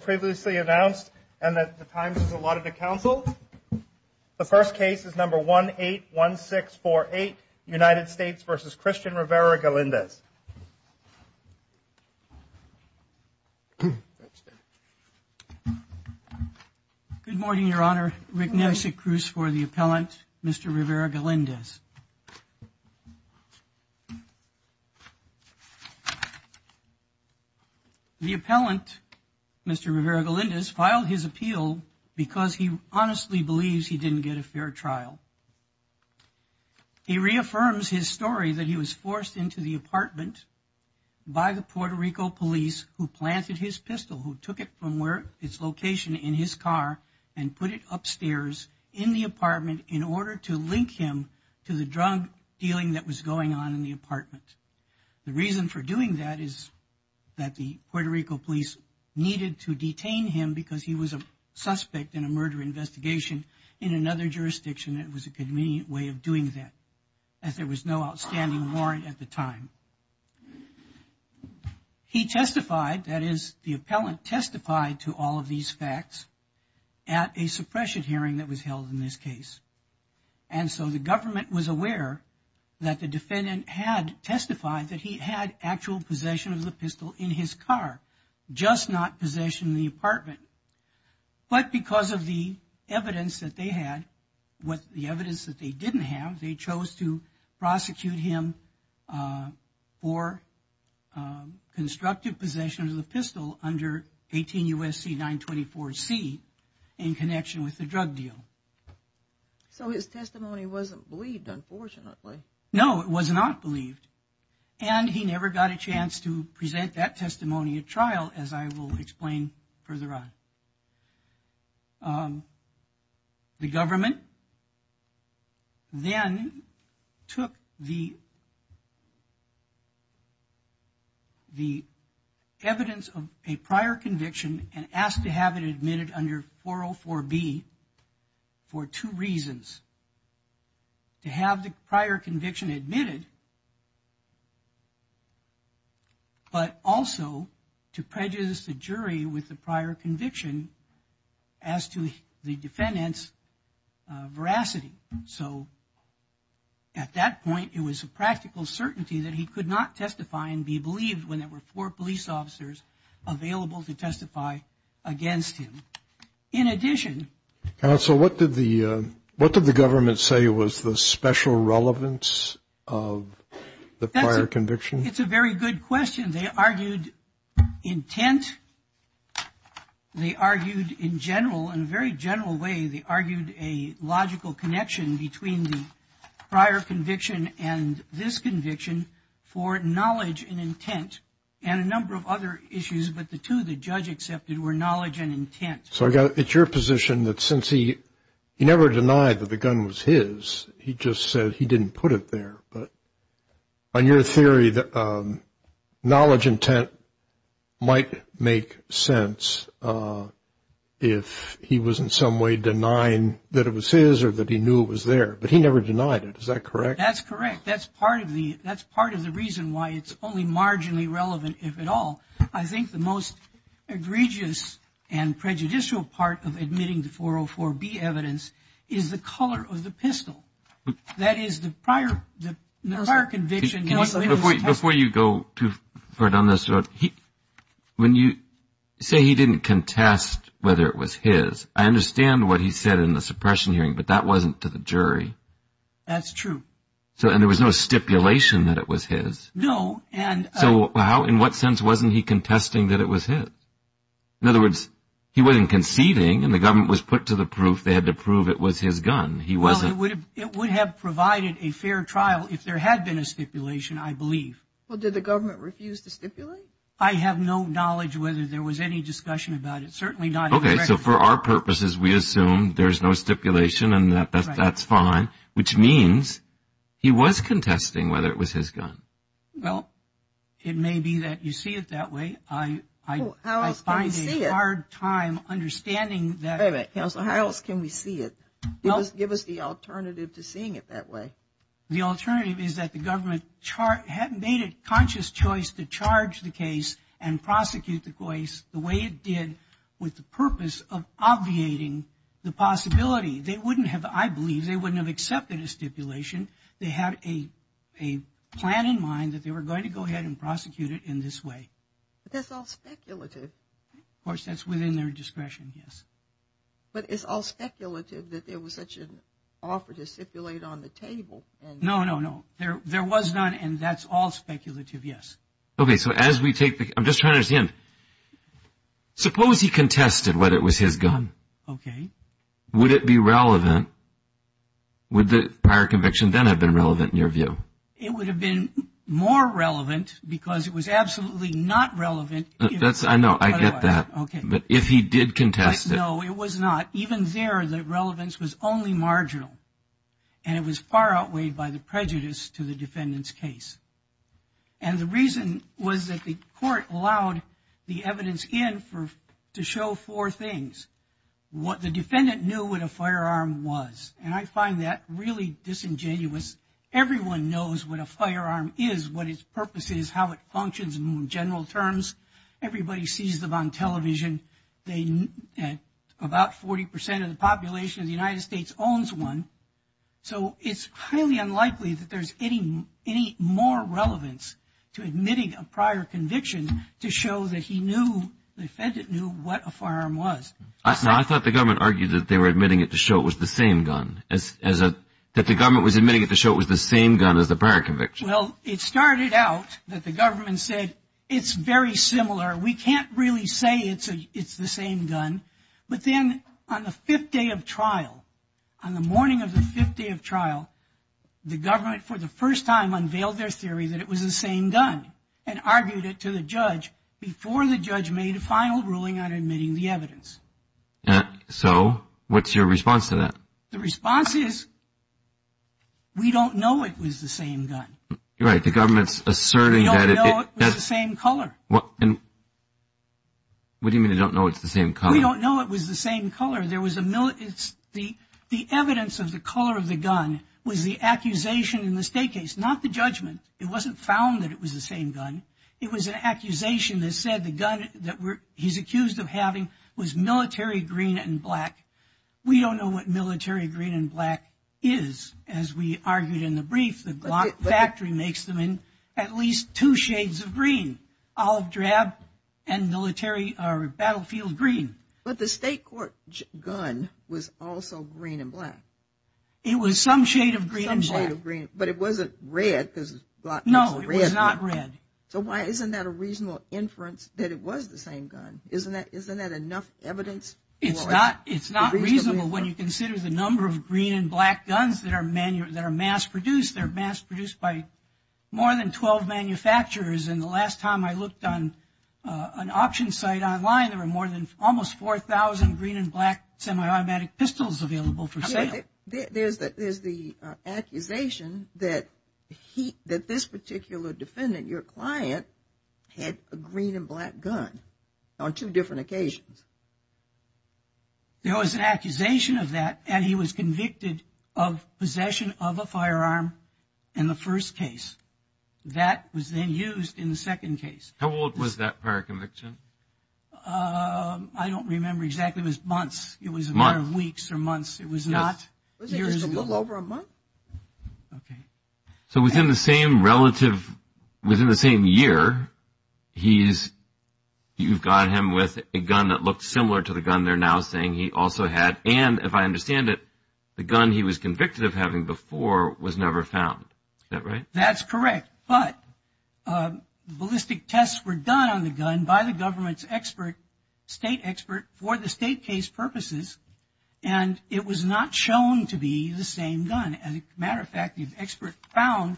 previously announced and that the Times has allotted to counsel. The first case is number 181648, United States v. Christian Rivera-Galindez. Good morning, Your Honor. Rick Nelson Cruz for the appellant, Mr. Rivera-Galindez. The appellant, Mr. Rivera-Galindez, filed his appeal because he honestly believes he didn't get a fair trial. He reaffirms his story that he was forced into the apartment by the Puerto Rico police who planted his pistol, who took it from its location in his car and put it upstairs in the apartment in order to link him to the drug dealing that was going on in the apartment. The reason for doing that is that the Puerto Rico police needed to detain him because he was a suspect in a murder investigation in another jurisdiction that was a convenient way of doing that, as there was no outstanding warrant at the time. He testified, that is, the appellant testified to all of these facts at a suppression hearing that was held in this case. And so the government was aware that the defendant had testified that he had actual possession of the pistol in his car, just not possession in the apartment. But because of the evidence that they had, the evidence that they didn't have, they chose to prosecute him for constructive possession of the pistol under 18 U.S.C. 924C in connection with the drug deal. So his testimony wasn't believed, unfortunately. No, it was not believed. And he never got a chance to present that testimony at trial, as I will explain further on. The government then took the evidence of a prior conviction and asked to have it admitted under 404B for two reasons. To have the prior conviction admitted, but also to prejudice the jury with the prior conviction as to the defendant's veracity. So at that point, it was a practical certainty that he could not testify and be believed when there were four police officers available to testify against him. In addition... Counsel, what did the government say was the special relevance of the prior conviction? It's a very good question. They argued intent. They argued in general, in a very general way, they argued a logical connection between the prior conviction and this conviction for knowledge and intent. And a number of other issues, but the two the judge accepted were knowledge and intent. So it's your position that since he never denied that the gun was his, he just said he didn't put it there. But on your theory, knowledge intent might make sense if he was in some way denying that it was his or that he knew it was there. But he never denied it. Is that correct? That's correct. That's part of the reason why it's only marginally relevant, if at all. I think the most egregious and prejudicial part of admitting the 404B evidence is the color of the pistol. That is the prior conviction... Before you go too far down this road, when you say he didn't contest whether it was his, I understand what he said in the suppression hearing, but that wasn't to the jury. That's true. And there was no stipulation that it was his. No. So in what sense wasn't he contesting that it was his? In other words, he wasn't conceding and the government was put to the proof they had to prove it was his gun. Well, it would have provided a fair trial if there had been a stipulation, I believe. Well, did the government refuse to stipulate? I have no knowledge whether there was any discussion about it, certainly not... Okay, so for our purposes, we assume there's no stipulation and that's fine, which means he was contesting whether it was his gun. Well, it may be that you see it that way. I find a hard time understanding that. How else can we see it? Give us the alternative to seeing it that way. The alternative is that the government made a conscious choice to charge the case and prosecute the case the way it did with the purpose of obviating the possibility. They wouldn't have, I believe, they wouldn't have accepted a stipulation. They had a plan in mind that they were going to go ahead and prosecute it in this way. But that's all speculative. Of course, that's within their discretion, yes. But it's all speculative that there was such an offer to stipulate on the table. No, no, no. There was none and that's all speculative, yes. Okay, so as we take the, I'm just trying to understand. Suppose he contested whether it was his gun. Okay. Would it be relevant? Would the prior conviction then have been relevant in your view? It would have been more relevant because it was absolutely not relevant. I know, I get that. But if he did contest it. No, it was not. Even there, the relevance was only marginal. And it was far outweighed by the prejudice to the defendant's case. And the reason was that the court allowed the evidence in to show four things. The defendant knew what a firearm was. And I find that really disingenuous. Everyone knows what a firearm is, what its purpose is, how it functions in general terms. Everybody sees them on television. About 40% of the population of the United States owns one. So it's highly unlikely that there's any more relevance to admitting a prior conviction to show that he knew, the defendant knew what a firearm was. I thought the government argued that they were admitting it to show it was the same gun. That the government was admitting it to show it was the same gun as the prior conviction. Well, it started out that the government said it's very similar. We can't really say it's the same gun. But then on the fifth day of trial, on the morning of the fifth day of trial, the government for the first time unveiled their theory that it was the same gun and argued it to the judge before the judge made a final ruling on admitting the evidence. So what's your response to that? The response is, we don't know it was the same gun. You're right, the government's asserting that it is. We don't know it was the same color. What do you mean you don't know it's the same color? We don't know it was the same color. The evidence of the color of the gun was the accusation in the state case, not the judgment. It wasn't found that it was the same gun. It was an accusation that said the gun that he's accused of having was military green and black. We don't know what military green and black is. As we argued in the brief, the Glock factory makes them in at least two shades of green, olive drab and military or battlefield green. But the state court gun was also green and black. It was some shade of green and black. Some shade of green, but it wasn't red because the Glock was a red gun. No, it was not red. So why isn't that a reasonable inference that it was the same gun? Isn't that enough evidence? It's not reasonable when you consider the number of green and black guns that are mass produced. They're mass produced by more than 12 manufacturers. And the last time I looked on an option site online, there were almost 4,000 green and black semi-automatic pistols available for sale. There's the accusation that this particular defendant, your client, had a green and black gun on two different occasions. There was an accusation of that, and he was convicted of possession of a firearm in the first case. That was then used in the second case. How old was that prior conviction? I don't remember exactly. It was months. It was a matter of weeks or months. It was not years. Wasn't it just a little over a month? Okay. So within the same relative, within the same year, you've got him with a gun that looked similar to the gun they're now saying he also had. And if I understand it, the gun he was convicted of having before was never found. Is that right? That's correct. But ballistic tests were done on the gun by the government's state expert for the state case purposes, and it was not shown to be the same gun. As a matter of fact, the expert found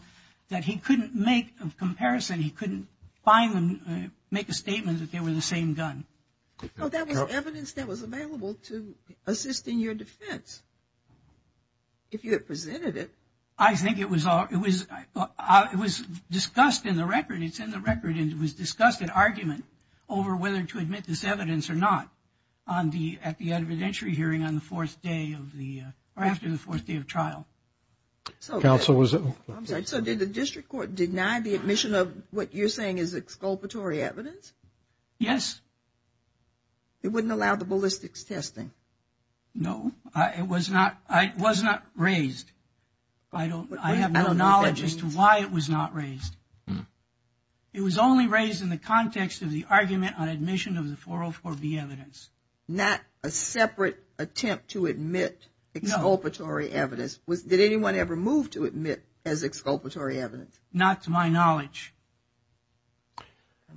that he couldn't make a comparison. He couldn't find them, make a statement that they were the same gun. Well, that was evidence that was available to assist in your defense if you had presented it. I think it was discussed in the record. It's in the record, and it was discussed in argument over whether to admit this evidence or not at the evidentiary hearing on the fourth day of the or after the fourth day of trial. Counsel, was it? I'm sorry. So did the district court deny the admission of what you're saying is exculpatory evidence? Yes. It wouldn't allow the ballistics testing? No. It was not raised. I have no knowledge as to why it was not raised. It was only raised in the context of the argument on admission of the 404B evidence. Not a separate attempt to admit exculpatory evidence? No. Did anyone ever move to admit as exculpatory evidence? Not to my knowledge. And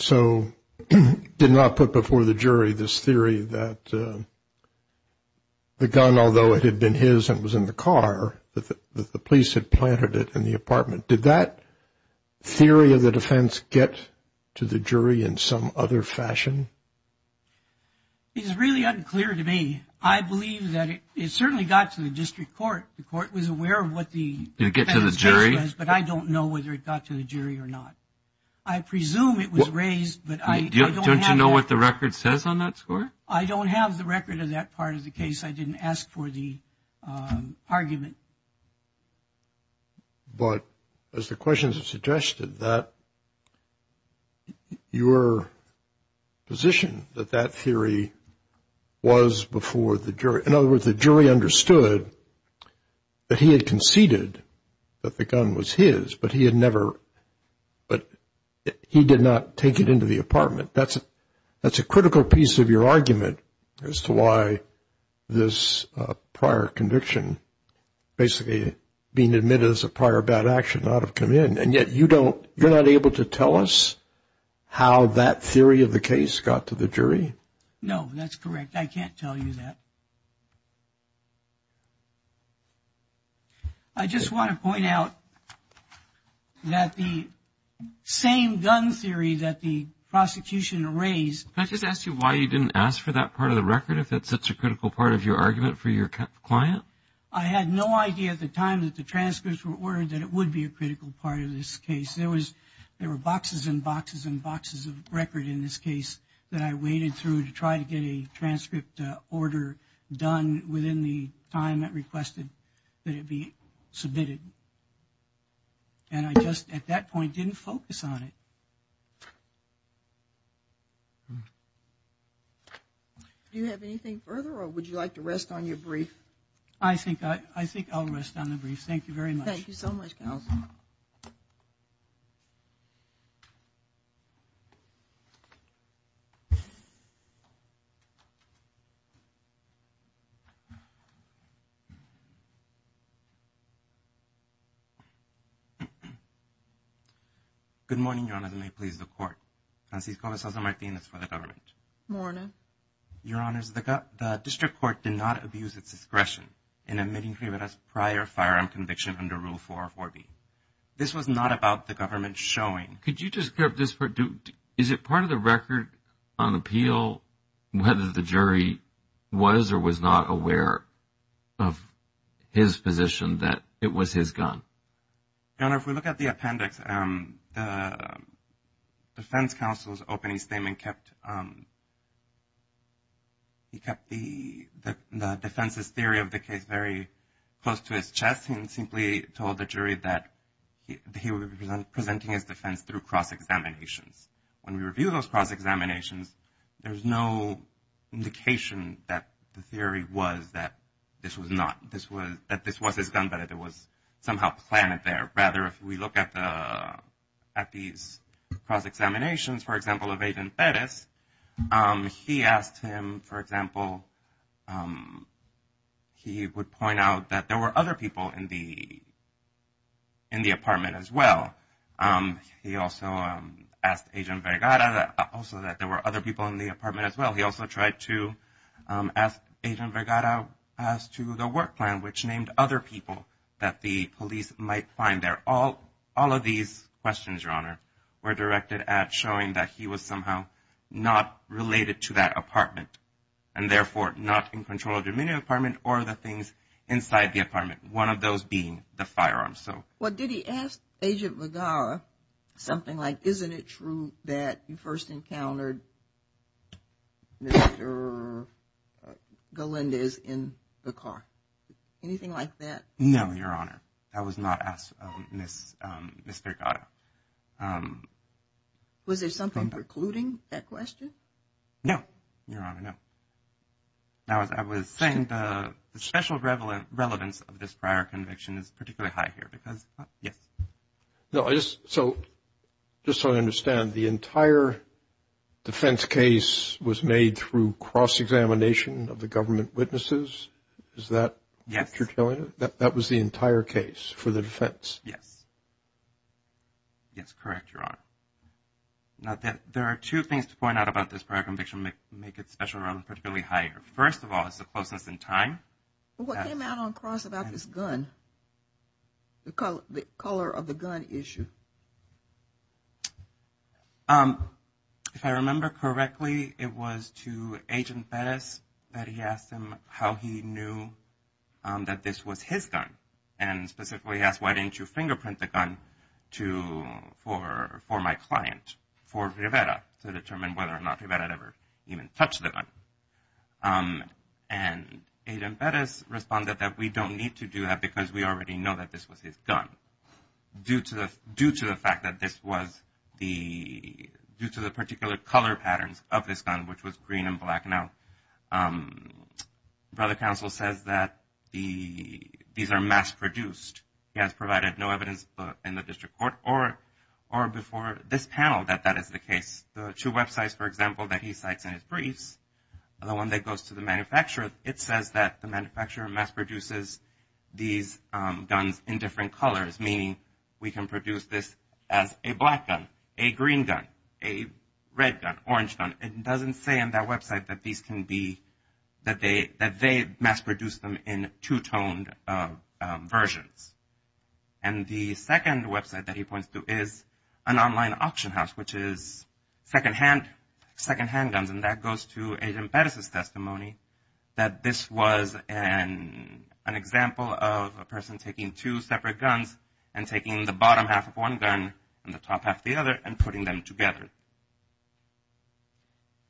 so did not put before the jury this theory that the gun, although it had been his and was in the car, that the police had planted it in the apartment. Did that theory of the defense get to the jury in some other fashion? It's really unclear to me. I believe that it certainly got to the district court. The court was aware of what the defense said, but I don't know whether it got to the jury or not. I presume it was raised, but I don't have that. Don't you know what the record says on that score? I don't have the record of that part of the case. I didn't ask for the argument. But as the questions have suggested, that your position that that theory was before the jury, in other words, the jury understood that he had conceded that the gun was his, but he did not take it into the apartment. That's a critical piece of your argument as to why this prior conviction, basically being admitted as a prior bad action, ought to have come in. And yet you're not able to tell us how that theory of the case got to the jury? No, that's correct. I can't tell you that. I just want to point out that the same gun theory that the prosecution raised. Can I just ask you why you didn't ask for that part of the record, if that's such a critical part of your argument for your client? I had no idea at the time that the transcripts were ordered that it would be a critical part of this case. There were boxes and boxes and boxes of record in this case that I waded through to try to get a transcript order done within the time that requested that it be submitted. And I just, at that point, didn't focus on it. Do you have anything further or would you like to rest on your brief? I think I'll rest on the brief. Thank you very much. Thank you so much. Good morning, Your Honors. And may it please the Court. Francisco de Sousa Martinez for the government. Good morning. Your Honors, the district court did not abuse its discretion in admitting Rivera's prior firearm conviction under Rule 4 of 4B. This was not about the government showing. Could you just clear up this part? Is it part of the record on appeal whether the jury was or was not aware of his position that it was his gun? Your Honor, if we look at the appendix, the defense counsel's opening statement kept the defense's theory of the case very close to his chest and simply told the jury that he was presenting his defense through cross-examinations. When we review those cross-examinations, there's no indication that the theory was that this was his gun, that it was somehow planted there. Rather, if we look at these cross-examinations, for example, of Agent Perez, he asked him, for example, he would point out that there were other people in the apartment as well. He also asked Agent Vergara also that there were other people in the apartment as well. He also tried to ask Agent Vergara as to the work plan, which named other people that the police might find there. All of these questions, Your Honor, were directed at showing that he was somehow not related to that apartment and, therefore, not in control of the remaining apartment or the things inside the apartment, one of those being the firearms. Well, did he ask Agent Vergara something like, isn't it true that you first encountered Mr. Galindez in the car? Anything like that? No, Your Honor. That was not asked of Mr. Vergara. Was there something precluding that question? No, Your Honor, no. Now, as I was saying, the special relevance of this prior conviction is particularly high here because, yes. So just so I understand, the entire defense case was made through cross-examination of the government witnesses? Is that what you're telling us? Yes. That was the entire case for the defense? Yes. Yes, correct, Your Honor. Now, there are two things to point out about this prior conviction that make its special relevance particularly higher. First of all is the closeness in time. What came out on cross about this gun, the color of the gun issue? If I remember correctly, it was to Agent Perez that he asked him how he knew that this was his gun and specifically asked why didn't you fingerprint the gun for my client, for Rivera, to determine whether or not Rivera had ever even touched the gun. And Agent Perez responded that we don't need to do that because we already know that this was his gun. Due to the fact that this was the – due to the particular color patterns of this gun, which was green and black. Now, Brother Counsel says that these are mass-produced. He has provided no evidence in the district court or before this panel that that is the case. The two websites, for example, that he cites in his briefs, the one that goes to the manufacturer, it says that the manufacturer mass-produces these guns in different colors, meaning we can produce this as a black gun, a green gun, a red gun, orange gun. It doesn't say on that website that these can be – that they mass-produce them in two-toned versions. And the second website that he points to is an online auction house, which is secondhand guns, and that goes to Agent Perez's testimony that this was an example of a person taking two separate guns and taking the bottom half of one gun and the top half of the other and putting them together.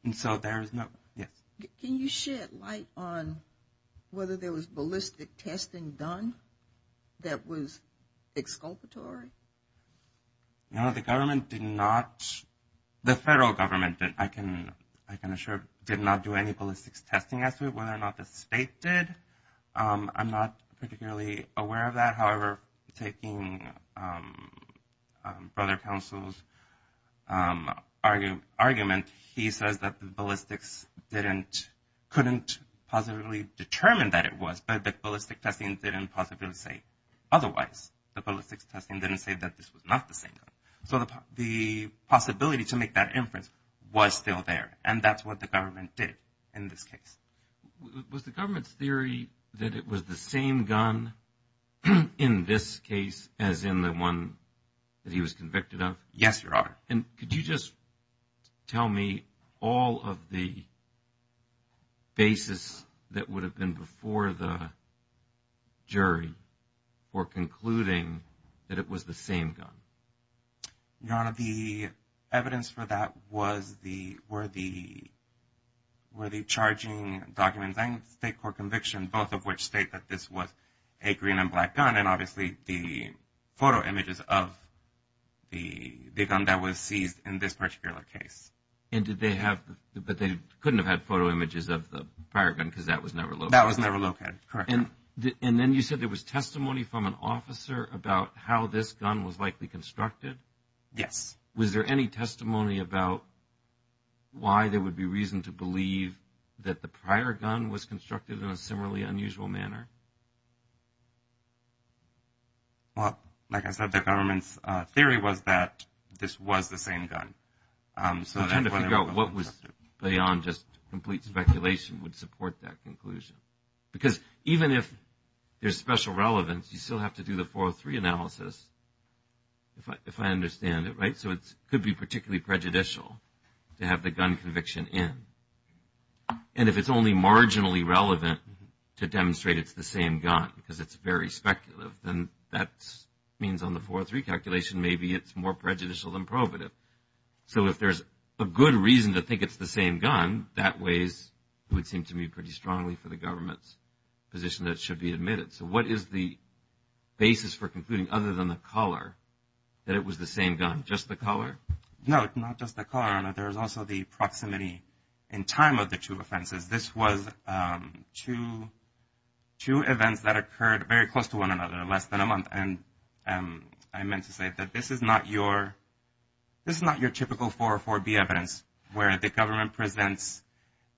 And so there is no – yes? Can you shed light on whether there was ballistic testing done that was exculpatory? No, the government did not – the federal government, I can assure, did not do any ballistics testing. As to whether or not the state did, I'm not particularly aware of that. However, taking Brother Counsel's argument, he says that the ballistics didn't – couldn't possibly determine that it was, but the ballistic testing didn't possibly say otherwise. The ballistics testing didn't say that this was not the same gun. So the possibility to make that inference was still there, and that's what the government did in this case. Was the government's theory that it was the same gun in this case as in the one that he was convicted of? Yes, Your Honor. And could you just tell me all of the basis that would have been before the jury for concluding that it was the same gun? Your Honor, the evidence for that was the – were the charging documents and state court conviction, both of which state that this was a green and black gun, and obviously the photo images of the gun that was seized in this particular case. And did they have – but they couldn't have had photo images of the prior gun because that was never located? That was never located, correct. And then you said there was testimony from an officer about how this gun was likely constructed? Yes. Was there any testimony about why there would be reason to believe that the prior gun was constructed in a similarly unusual manner? Well, like I said, the government's theory was that this was the same gun. So trying to figure out what was beyond just complete speculation would support that conclusion. Because even if there's special relevance, you still have to do the 403 analysis, if I understand it right. So it could be particularly prejudicial to have the gun conviction in. And if it's only marginally relevant to demonstrate it's the same gun because it's very speculative, then that means on the 403 calculation maybe it's more prejudicial than probative. So if there's a good reason to think it's the same gun, that way would seem to me pretty strongly for the government's position that it should be admitted. So what is the basis for concluding, other than the color, that it was the same gun? Just the color? No, not just the color. There was also the proximity in time of the two offenses. This was two events that occurred very close to one another, less than a month. And I meant to say that this is not your typical 404B evidence, where the government presents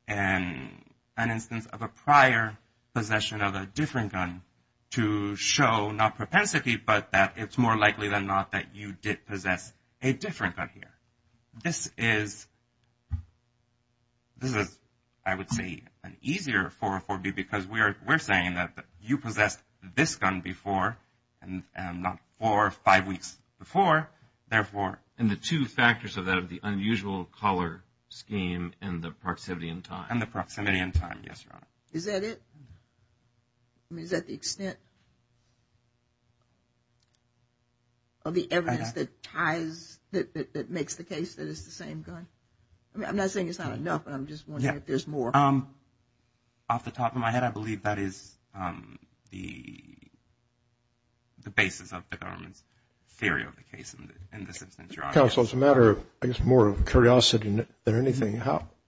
an instance of a prior possession of a different gun to show not propensity, but that it's more likely than not that you did possess a different gun here. This is, I would say, an easier 404B because we're saying that you possessed this gun before, and not four or five weeks before. And the two factors of that are the unusual color scheme and the proximity in time. And the proximity in time, yes, Your Honor. Is that it? Of the evidence that ties, that makes the case that it's the same gun? I mean, I'm not saying it's not enough, but I'm just wondering if there's more. Off the top of my head, I believe that is the basis of the government's theory of the case in this instance, Your Honor. Counsel, as a matter of, I guess, more of curiosity than anything,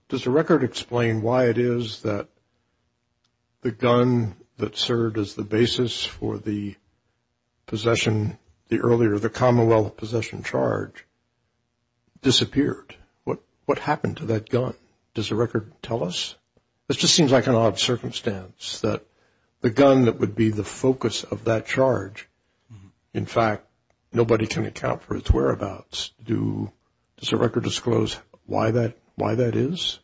does the record explain why it is that the gun that served as the basis for the possession, the earlier, the commonwealth possession charge, disappeared? What happened to that gun? Does the record tell us? This just seems like an odd circumstance that the gun that would be the focus of that charge, in fact, nobody can account for its whereabouts. Does the record disclose why that is?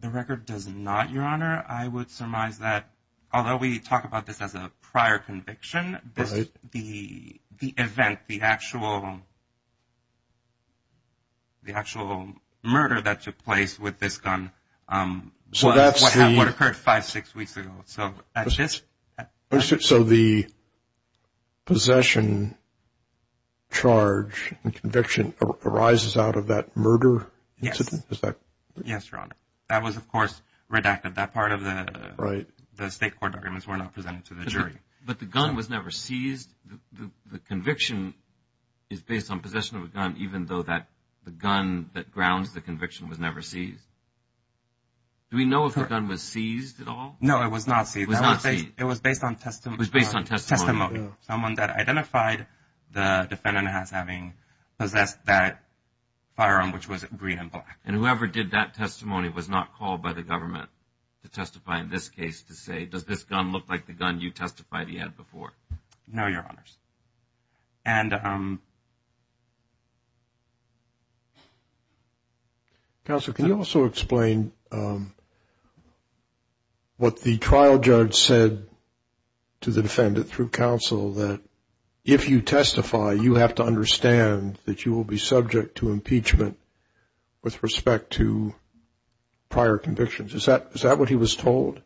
The record does not, Your Honor. I would surmise that, although we talk about this as a prior conviction, the event, the actual murder that took place with this gun, what occurred five, six weeks ago. So the possession charge and conviction arises out of that murder incident? Yes. Yes, Your Honor. That was, of course, redacted. That part of the state court documents were not presented to the jury. But the gun was never seized? The conviction is based on possession of a gun, even though the gun that grounds the conviction was never seized? Do we know if the gun was seized at all? No, it was not seized. It was based on testimony. It was based on testimony. Someone that identified the defendant as having possessed that firearm, which was green and black. And whoever did that testimony was not called by the government to testify in this case to say, does this gun look like the gun you testified he had before? No, Your Honors. Counsel, can you also explain what the trial judge said to the defendant through counsel that if you testify, you have to understand that you will be subject to impeachment with respect to prior convictions? Is that what he was told?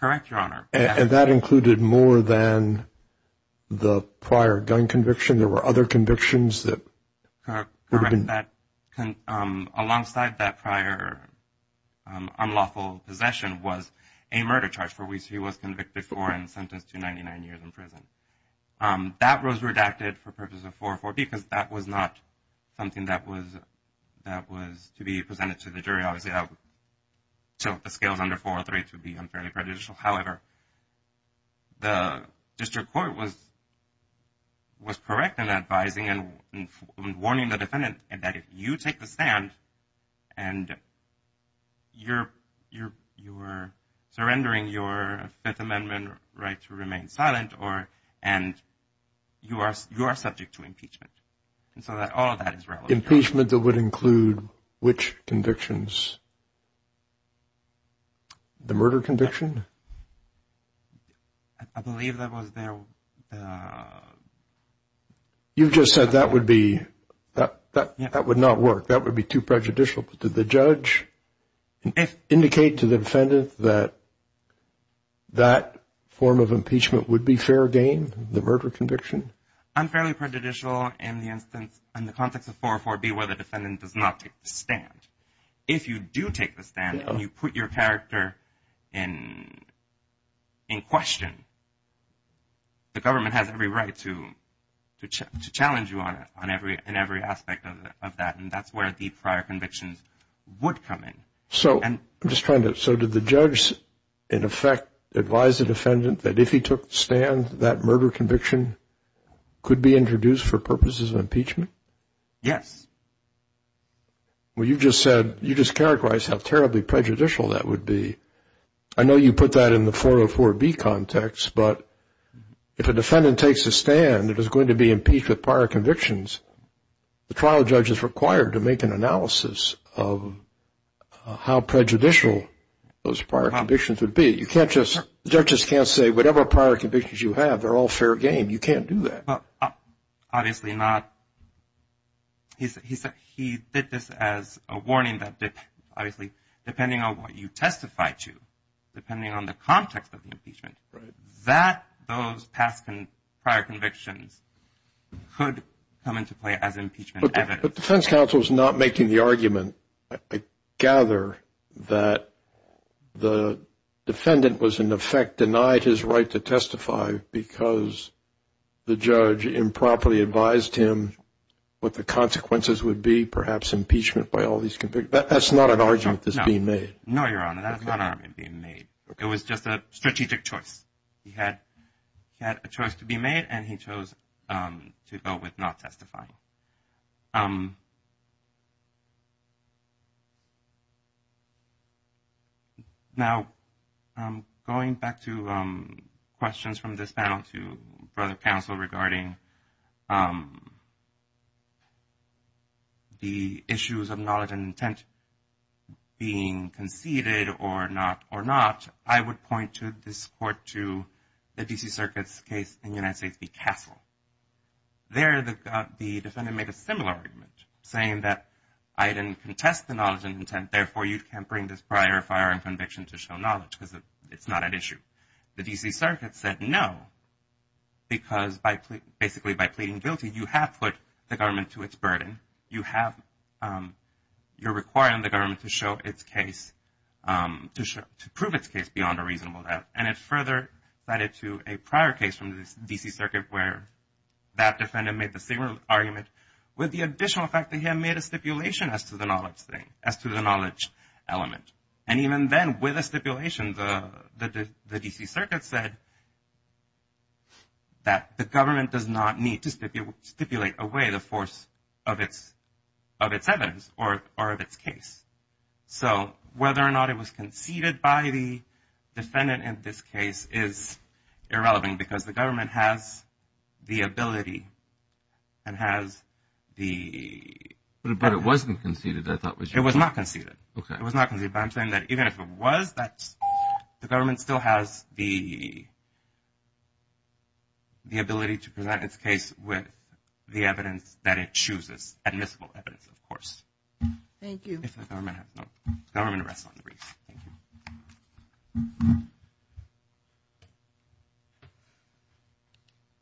Correct, Your Honor. And that included more than the prior gun conviction? There were other convictions that would have been? Correct. Alongside that prior unlawful possession was a murder charge, for which he was convicted before and sentenced to 99 years in prison. That was redacted for purposes of 404B because that was not something that was to be presented to the jury. So if the scale is under 403, it would be unfairly prejudicial. However, the district court was correct in advising and warning the defendant that if you take the stand and you're surrendering your Fifth Amendment right to remain silent and you are subject to impeachment. And so all of that is relevant. The impeachment that would include which convictions? The murder conviction? I believe that was there. You just said that would be – that would not work. That would be too prejudicial. But did the judge indicate to the defendant that that form of impeachment would be fair game, the murder conviction? Unfairly prejudicial in the instance – in the context of 404B where the defendant does not take the stand. If you do take the stand and you put your character in question, the government has every right to challenge you on every aspect of that. And that's where the prior convictions would come in. So I'm just trying to – so did the judge in effect advise the defendant that if he took the stand, that murder conviction could be introduced for purposes of impeachment? Yes. Well, you just said – you just characterized how terribly prejudicial that would be. I know you put that in the 404B context, but if a defendant takes a stand, it is going to be impeached with prior convictions. The trial judge is required to make an analysis of how prejudicial those prior convictions would be. You can't just – judges can't say whatever prior convictions you have, they're all fair game. You can't do that. Obviously not. He said he did this as a warning that, obviously, depending on what you testify to, depending on the context of the impeachment, that those past prior convictions could come into play as impeachment evidence. But defense counsel is not making the argument, I gather, that the defendant was in effect denied his right to testify because the judge improperly advised him what the consequences would be, perhaps impeachment by all these convictions. That's not an argument that's being made. No, Your Honor, that's not an argument being made. It was just a strategic choice. He had a choice to be made, and he chose to go with not testifying. Now, going back to questions from this panel to further counsel regarding the issues of knowledge and intent being conceded or not or not, I would point this court to the D.C. Circuit's case in the United States v. Castle. There, the defendant made a similar argument, saying that I didn't contest the knowledge and intent, therefore you can't bring this prior firing conviction to show knowledge because it's not an issue. The D.C. Circuit said no, because basically by pleading guilty, you have put the government to its burden. You're requiring the government to prove its case beyond a reasonable doubt. And it further cited to a prior case from the D.C. Circuit where that defendant made the similar argument with the additional fact that he had made a stipulation as to the knowledge thing, as to the knowledge element. And even then, with a stipulation, the D.C. Circuit said that the government does not need to stipulate away the force of its evidence or of its case. So whether or not it was conceded by the defendant in this case is irrelevant, because the government has the ability and has the... But it wasn't conceded, I thought. It was not conceded. Okay. It was not conceded, but I'm saying that even if it was, the government still has the ability to present its case with the evidence that it chooses, admissible evidence, of course. Thank you. If the government has... No. Government rests on the brief. Thank you.